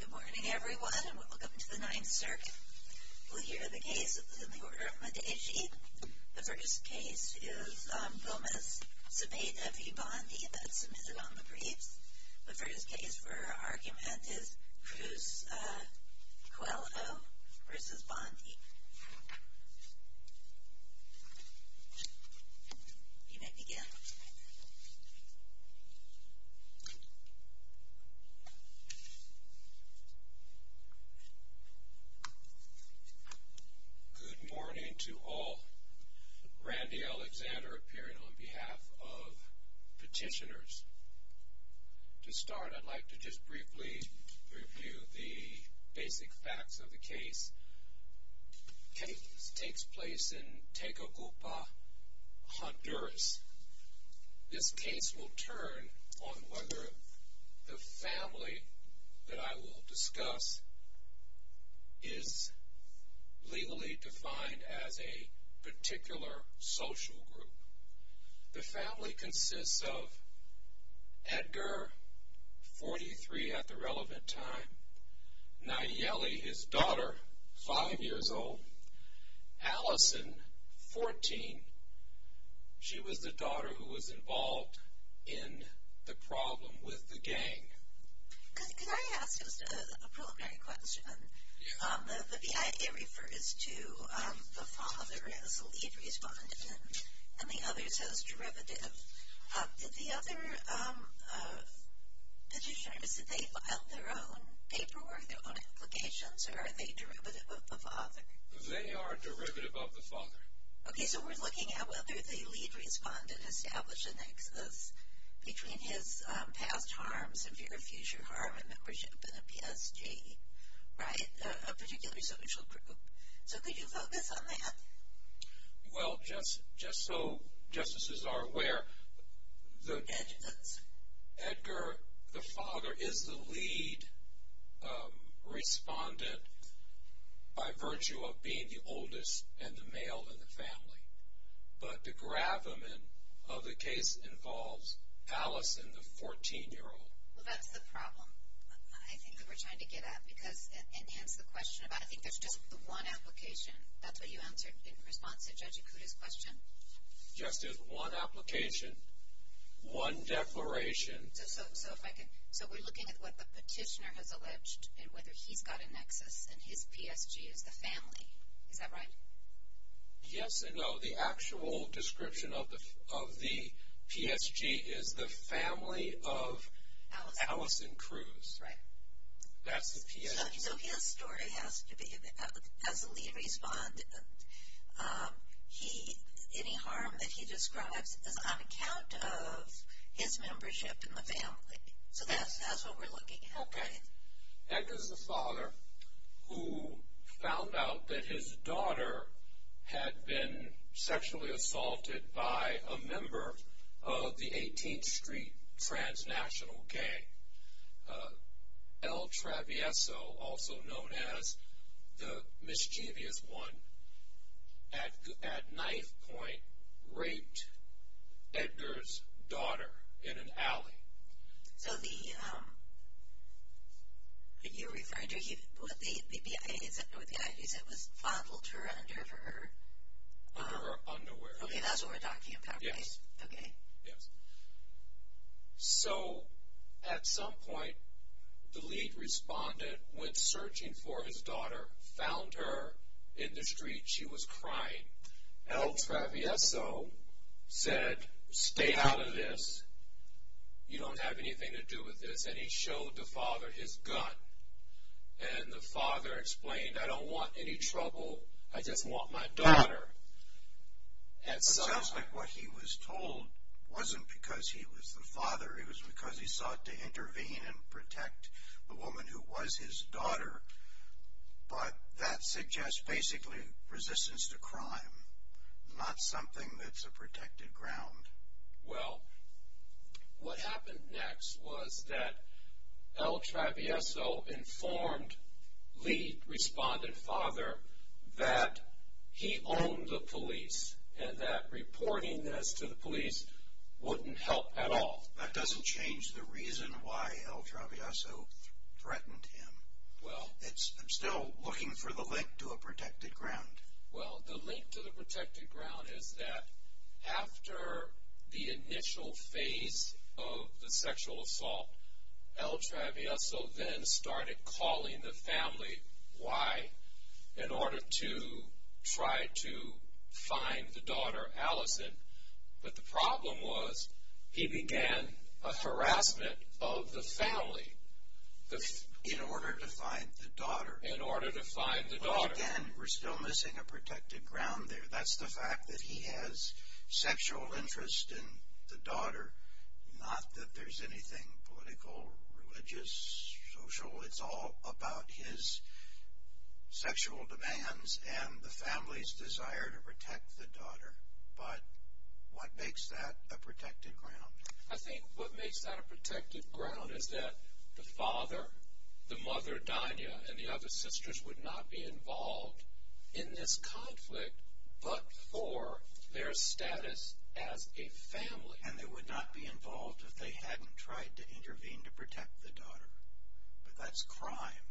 Good morning everyone and welcome to the Ninth Circuit. We'll hear the case in the order of Medici. The first case is Gomez-Cepeda v. Bondi that is submitted on the briefs. The first case for our argument is Cruz-Coello v. Bondi. You may begin. Good morning to all. Randy Alexander appearing on behalf of petitioners. To start, I'd like to just briefly review the basic facts of the case. The case takes place in Tegucupa, Honduras. This case will turn on whether the family that I will discuss is legally defined as a particular social group. The family consists of Edgar, 43 at the relevant time, Nayeli, his daughter, 5 years old, Allison, 14. She was the daughter who was involved in the problem with the gang. Could I ask just a preliminary question? Yes. The I.A. refers to the father as a lead respondent and the other says derivative. Did the other petitioners, did they file their own paperwork, their own applications, or are they derivative of the father? They are derivative of the father. Okay, so we're looking at whether the lead respondent established a nexus between his past harm, severe future harm, and membership in a PSG, right, a particular social group. So could you focus on that? Well, just so justices are aware, Edgar, the father, is the lead respondent by virtue of being the oldest and the male in the family. But the gravamen of the case involves Allison, the 14-year-old. Well, that's the problem, I think, that we're trying to get at, because it ends the question about I think there's just the one application. That's what you answered in response to Judge Ikuda's question. Just this one application, one declaration. So we're looking at what the petitioner has alleged and whether he's got a nexus, and his PSG is the family. Is that right? Yes and no. The actual description of the PSG is the family of Allison Cruz. Right. That's the PSG. So his story has to be, as the lead respondent, any harm that he describes is on account of his membership in the family. So that's what we're looking at. Okay. Edgar's the father who found out that his daughter had been sexually assaulted by a member of the 18th Street transnational gang. El Travieso, also known as the mischievous one, at knife point raped Edgar's daughter in an alley. Okay. So the, are you referring to, what the IG said was fondled her under her? Under her underwear. Okay, that's what we're talking about, right? Okay. Yes. So at some point the lead respondent went searching for his daughter, found her in the street. She was crying. El Travieso said, stay out of this. You don't have anything to do with this. And he showed the father his gun. And the father explained, I don't want any trouble. I just want my daughter. But it sounds like what he was told wasn't because he was the father. It was because he sought to intervene and protect the woman who was his daughter. But that suggests basically resistance to crime, not something that's a protected ground. Well, what happened next was that El Travieso informed lead respondent father that he owned the police and that reporting this to the police wouldn't help at all. That doesn't change the reason why El Travieso threatened him. I'm still looking for the link to a protected ground. Well, the link to the protected ground is that after the initial phase of the sexual assault, El Travieso then started calling the family. In order to try to find the daughter, Allison. But the problem was he began a harassment of the family. In order to find the daughter. In order to find the daughter. But again, we're still missing a protected ground there. That's the fact that he has sexual interest in the daughter. Not that there's anything political, religious, social. It's all about his sexual demands and the family's desire to protect the daughter. But what makes that a protected ground? I think what makes that a protected ground is that the father, the mother, Dania, and the other sisters would not be involved in this conflict but for their status as a family. And they would not be involved if they hadn't tried to intervene to protect the daughter. But that's crime.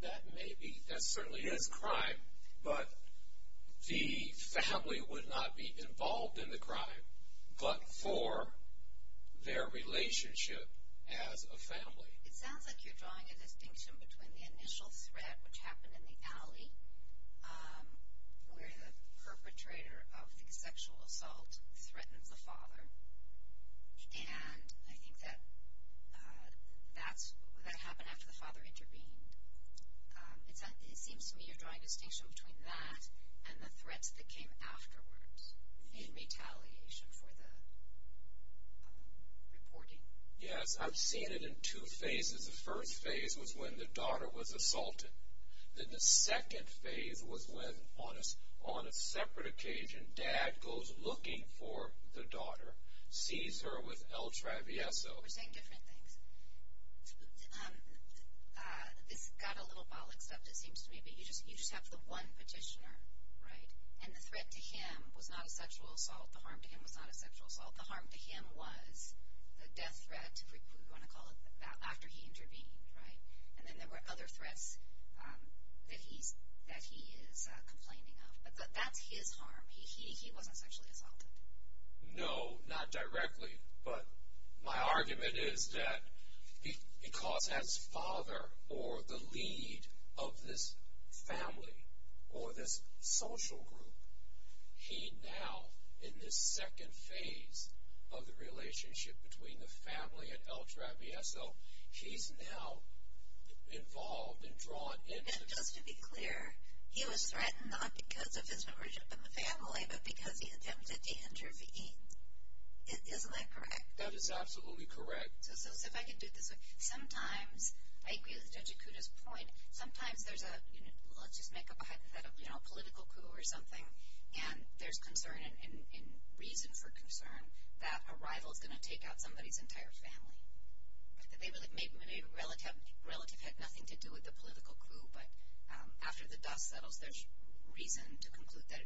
That may be. That certainly is crime. But the family would not be involved in the crime but for their relationship as a family. It sounds like you're drawing a distinction between the initial threat which happened in the alley where the perpetrator of the sexual assault threatened the father. And I think that that happened after the father intervened. It seems to me you're drawing a distinction between that and the threats that came afterwards in retaliation for the reporting. Yes, I've seen it in two phases. The first phase was when the daughter was assaulted. Then the second phase was when, on a separate occasion, Dad goes looking for the daughter, sees her with El Travieso. We're saying different things. This got a little bollocks up, it seems to me, but you just have the one petitioner, right? And the threat to him was not a sexual assault. The harm to him was not a sexual assault. The harm to him was the death threat, if we want to call it that, after he intervened, right? And then there were other threats that he is complaining of. But that's his harm. He wasn't sexually assaulted. No, not directly. But my argument is that because as father or the lead of this family or this social group, he now, in this second phase of the relationship between the family and El Traviso, he's now involved and drawn into this. And just to be clear, he was threatened not because of his membership in the family, but because he attempted to intervene. Isn't that correct? That is absolutely correct. So if I can do it this way, sometimes, I agree with Judge Ikuda's point, sometimes there's a, let's just make up a hypothetical, you know, political coup or something, and there's concern and reason for concern that a rival is going to take out somebody's entire family. Maybe a relative had nothing to do with the political coup, but after the dust settles there's reason to conclude that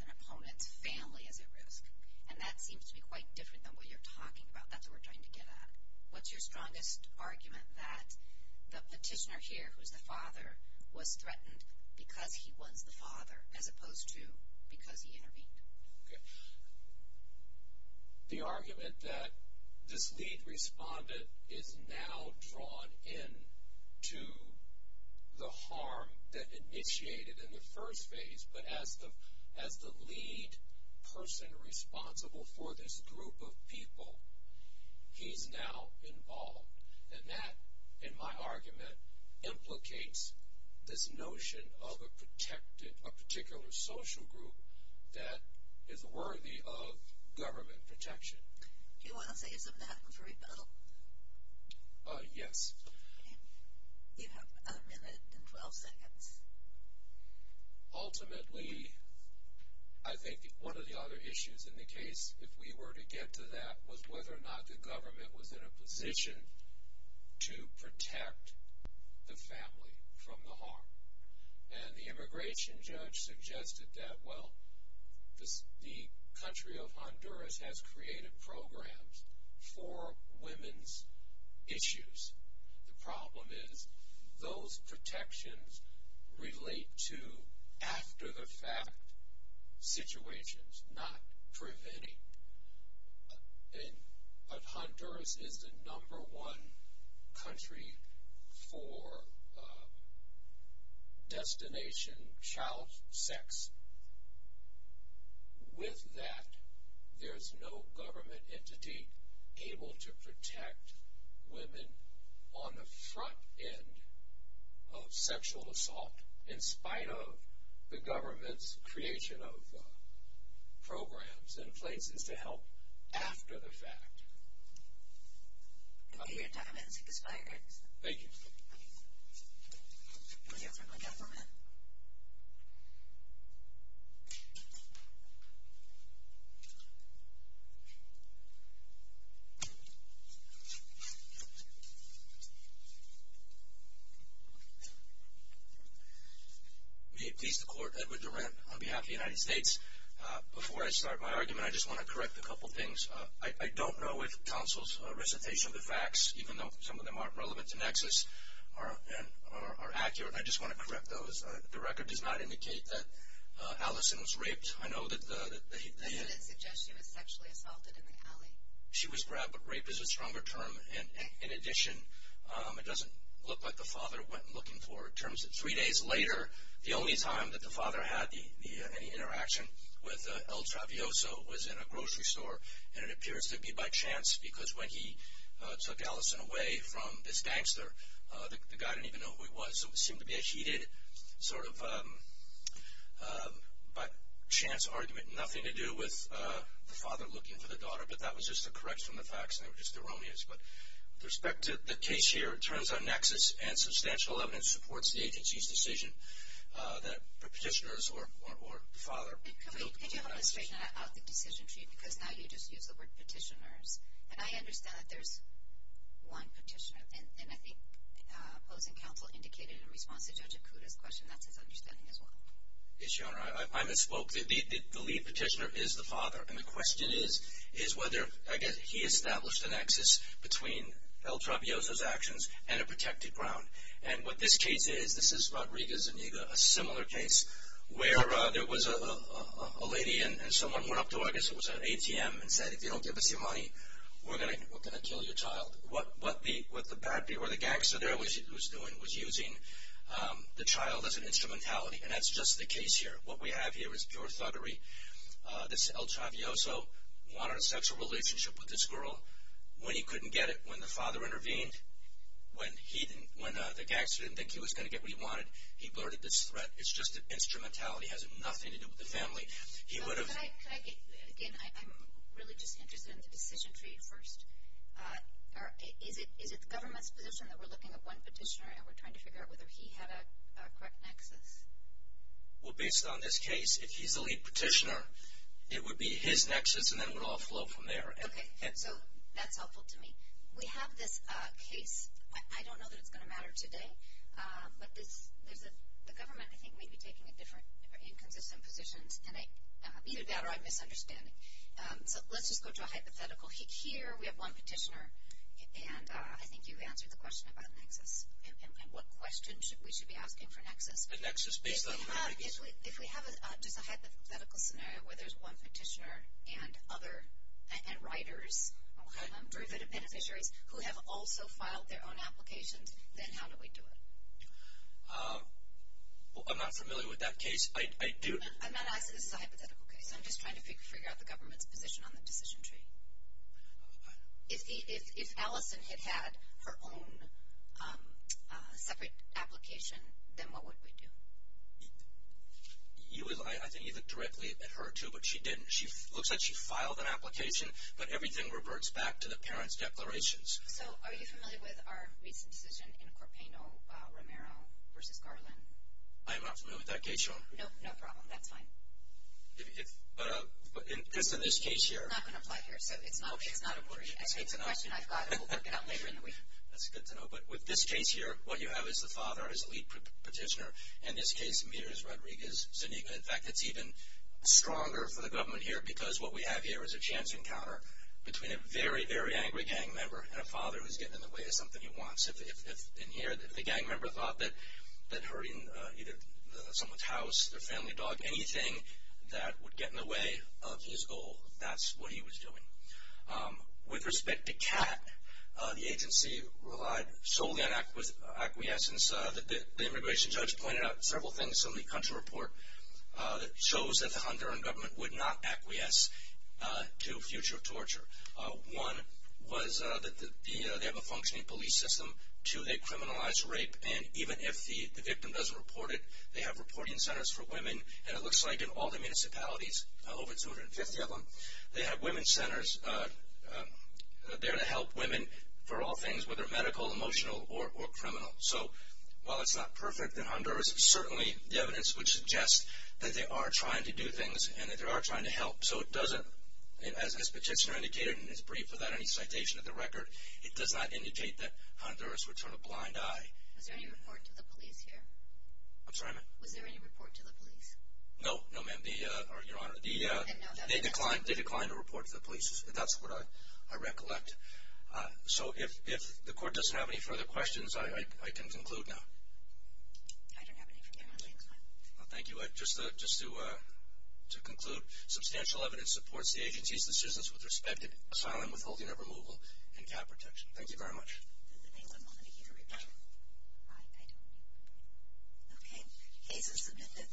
an opponent's family is at risk. And that seems to be quite different than what you're talking about. That's what we're trying to get at. What's your strongest argument that the petitioner here, who's the father, was threatened because he was the father as opposed to because he intervened? Okay. The argument that this lead respondent is now drawn into the harm that initiated in the first phase, but as the lead person responsible for this group of people, he's now involved. And that, in my argument, implicates this notion of a protected, a particular social group, that is worthy of government protection. Do you want to save some time for rebuttal? Yes. You have a minute and 12 seconds. Ultimately, I think one of the other issues in the case, if we were to get to that, was whether or not the government was in a position to protect the family from the harm. And the immigration judge suggested that, well, the country of Honduras has created programs for women's issues. The problem is those protections relate to after-the-fact situations, not preventing. But Honduras is the number one country for destination child sex. With that, there's no government entity able to protect women on the front end of sexual assault, in spite of the government's creation of programs and places to help after the fact. Your time has expired. Thank you. Do we have time for one more minute? May it please the Court, Edward Durant on behalf of the United States. Before I start my argument, I just want to correct a couple things. I don't know if counsel's recitation of the facts, even though some of them aren't relevant to Nexus, are accurate. I just want to correct those. The record does not indicate that Allison was raped. I know that the- I didn't suggest she was sexually assaulted in the alley. She was grabbed, but rape is a stronger term. In addition, it doesn't look like the father went looking for her. It turns out three days later, the only time that the father had any interaction with El Travioso was in a grocery store, and it appears to be by chance, because when he took Allison away from this gangster, the guy didn't even know who he was, so it seemed to be a heeded sort of chance argument. Nothing to do with the father looking for the daughter, but that was just a correction of the facts, and they were just erroneous. But with respect to the case here, it turns out Nexus and substantial evidence supports the agency's decision that the petitioners or the father- Could you help me straighten out the decision for you? Because now you just use the word petitioners, and I understand that there's one petitioner, and I think opposing counsel indicated in response to Judge Acuda's question that's his understanding as well. Yes, Your Honor. I misspoke. The lead petitioner is the father, and the question is whether, I guess, he established a nexus between El Travioso's actions and a protected ground. And what this case is, this is Rodriguez-Zuniga, a similar case, where there was a lady and someone went up to, I guess it was an ATM, and said, if you don't give us your money, we're going to kill your child. What the bad people or the gangster there was doing was using the child as an instrumentality, and that's just the case here. What we have here is pure thuggery. This El Travioso wanted a sexual relationship with this girl. When he couldn't get it, when the father intervened, when the gangster didn't think he was going to get what he wanted, he blurted this threat. It's just an instrumentality. It has nothing to do with the family. Again, I'm really just interested in the decision for you first. Is it the government's position that we're looking at one petitioner and we're trying to figure out whether he had a correct nexus? Well, based on this case, if he's the lead petitioner, it would be his nexus, and then it would all flow from there. Okay, so that's helpful to me. We have this case. I don't know that it's going to matter today, but the government, I think, may be taking inconsistent positions, and either that or I'm misunderstanding. So let's just go to a hypothetical. Here we have one petitioner, and I think you've answered the question about nexus and what questions we should be asking for nexus. The nexus is based on what? If we have just a hypothetical scenario where there's one petitioner and writers, derivative beneficiaries, who have also filed their own applications, then how do we do it? I'm not familiar with that case. I'm not asking this is a hypothetical case. I'm just trying to figure out the government's position on the decision tree. If Allison had had her own separate application, then what would we do? I think you looked directly at her, too, but she didn't. It looks like she filed an application, but everything reverts back to the parents' declarations. So are you familiar with our recent decision in Corpaino-Romero v. Garland? I'm not familiar with that case, Joan. No problem. That's fine. Just in this case here. I'm not going to apply here, so it's not a worry. It's a question I've got. We'll work it out later in the week. That's good to know. But with this case here, what you have is the father, his lead petitioner. In this case, it's Rodriguez-Zuniga. In fact, it's even stronger for the government here because what we have here is a chance encounter between a very, very angry gang member and a father who's getting in the way of something he wants. If the gang member thought that hurting either someone's house, their family dog, anything that would get in the way of his goal, that's what he was doing. With respect to Kat, the agency relied solely on acquiescence. The immigration judge pointed out several things in the country report that shows that the Honduran government would not acquiesce to future torture. One was that they have a functioning police system. Two, they criminalize rape. And even if the victim doesn't report it, they have reporting centers for women. And it looks like in all the municipalities, over 250 of them, they have women's centers. They're to help women for all things, whether medical, emotional, or criminal. So while it's not perfect in Honduras, certainly the evidence would suggest that they are trying to do things and that they are trying to help. So it doesn't, as this petitioner indicated in his brief without any citation of the record, it does not indicate that Honduras would turn a blind eye. Was there any report to the police here? I'm sorry, ma'am? Was there any report to the police? No, no, ma'am. Your Honor, they declined a report to the police. That's what I recollect. So if the court doesn't have any further questions, I can conclude now. I don't have any further questions. Thank you. But just to conclude, substantial evidence supports the agency's decisions with respect to asylum, withholding of removal, and cat protection. Thank you very much. Okay, case is submitted.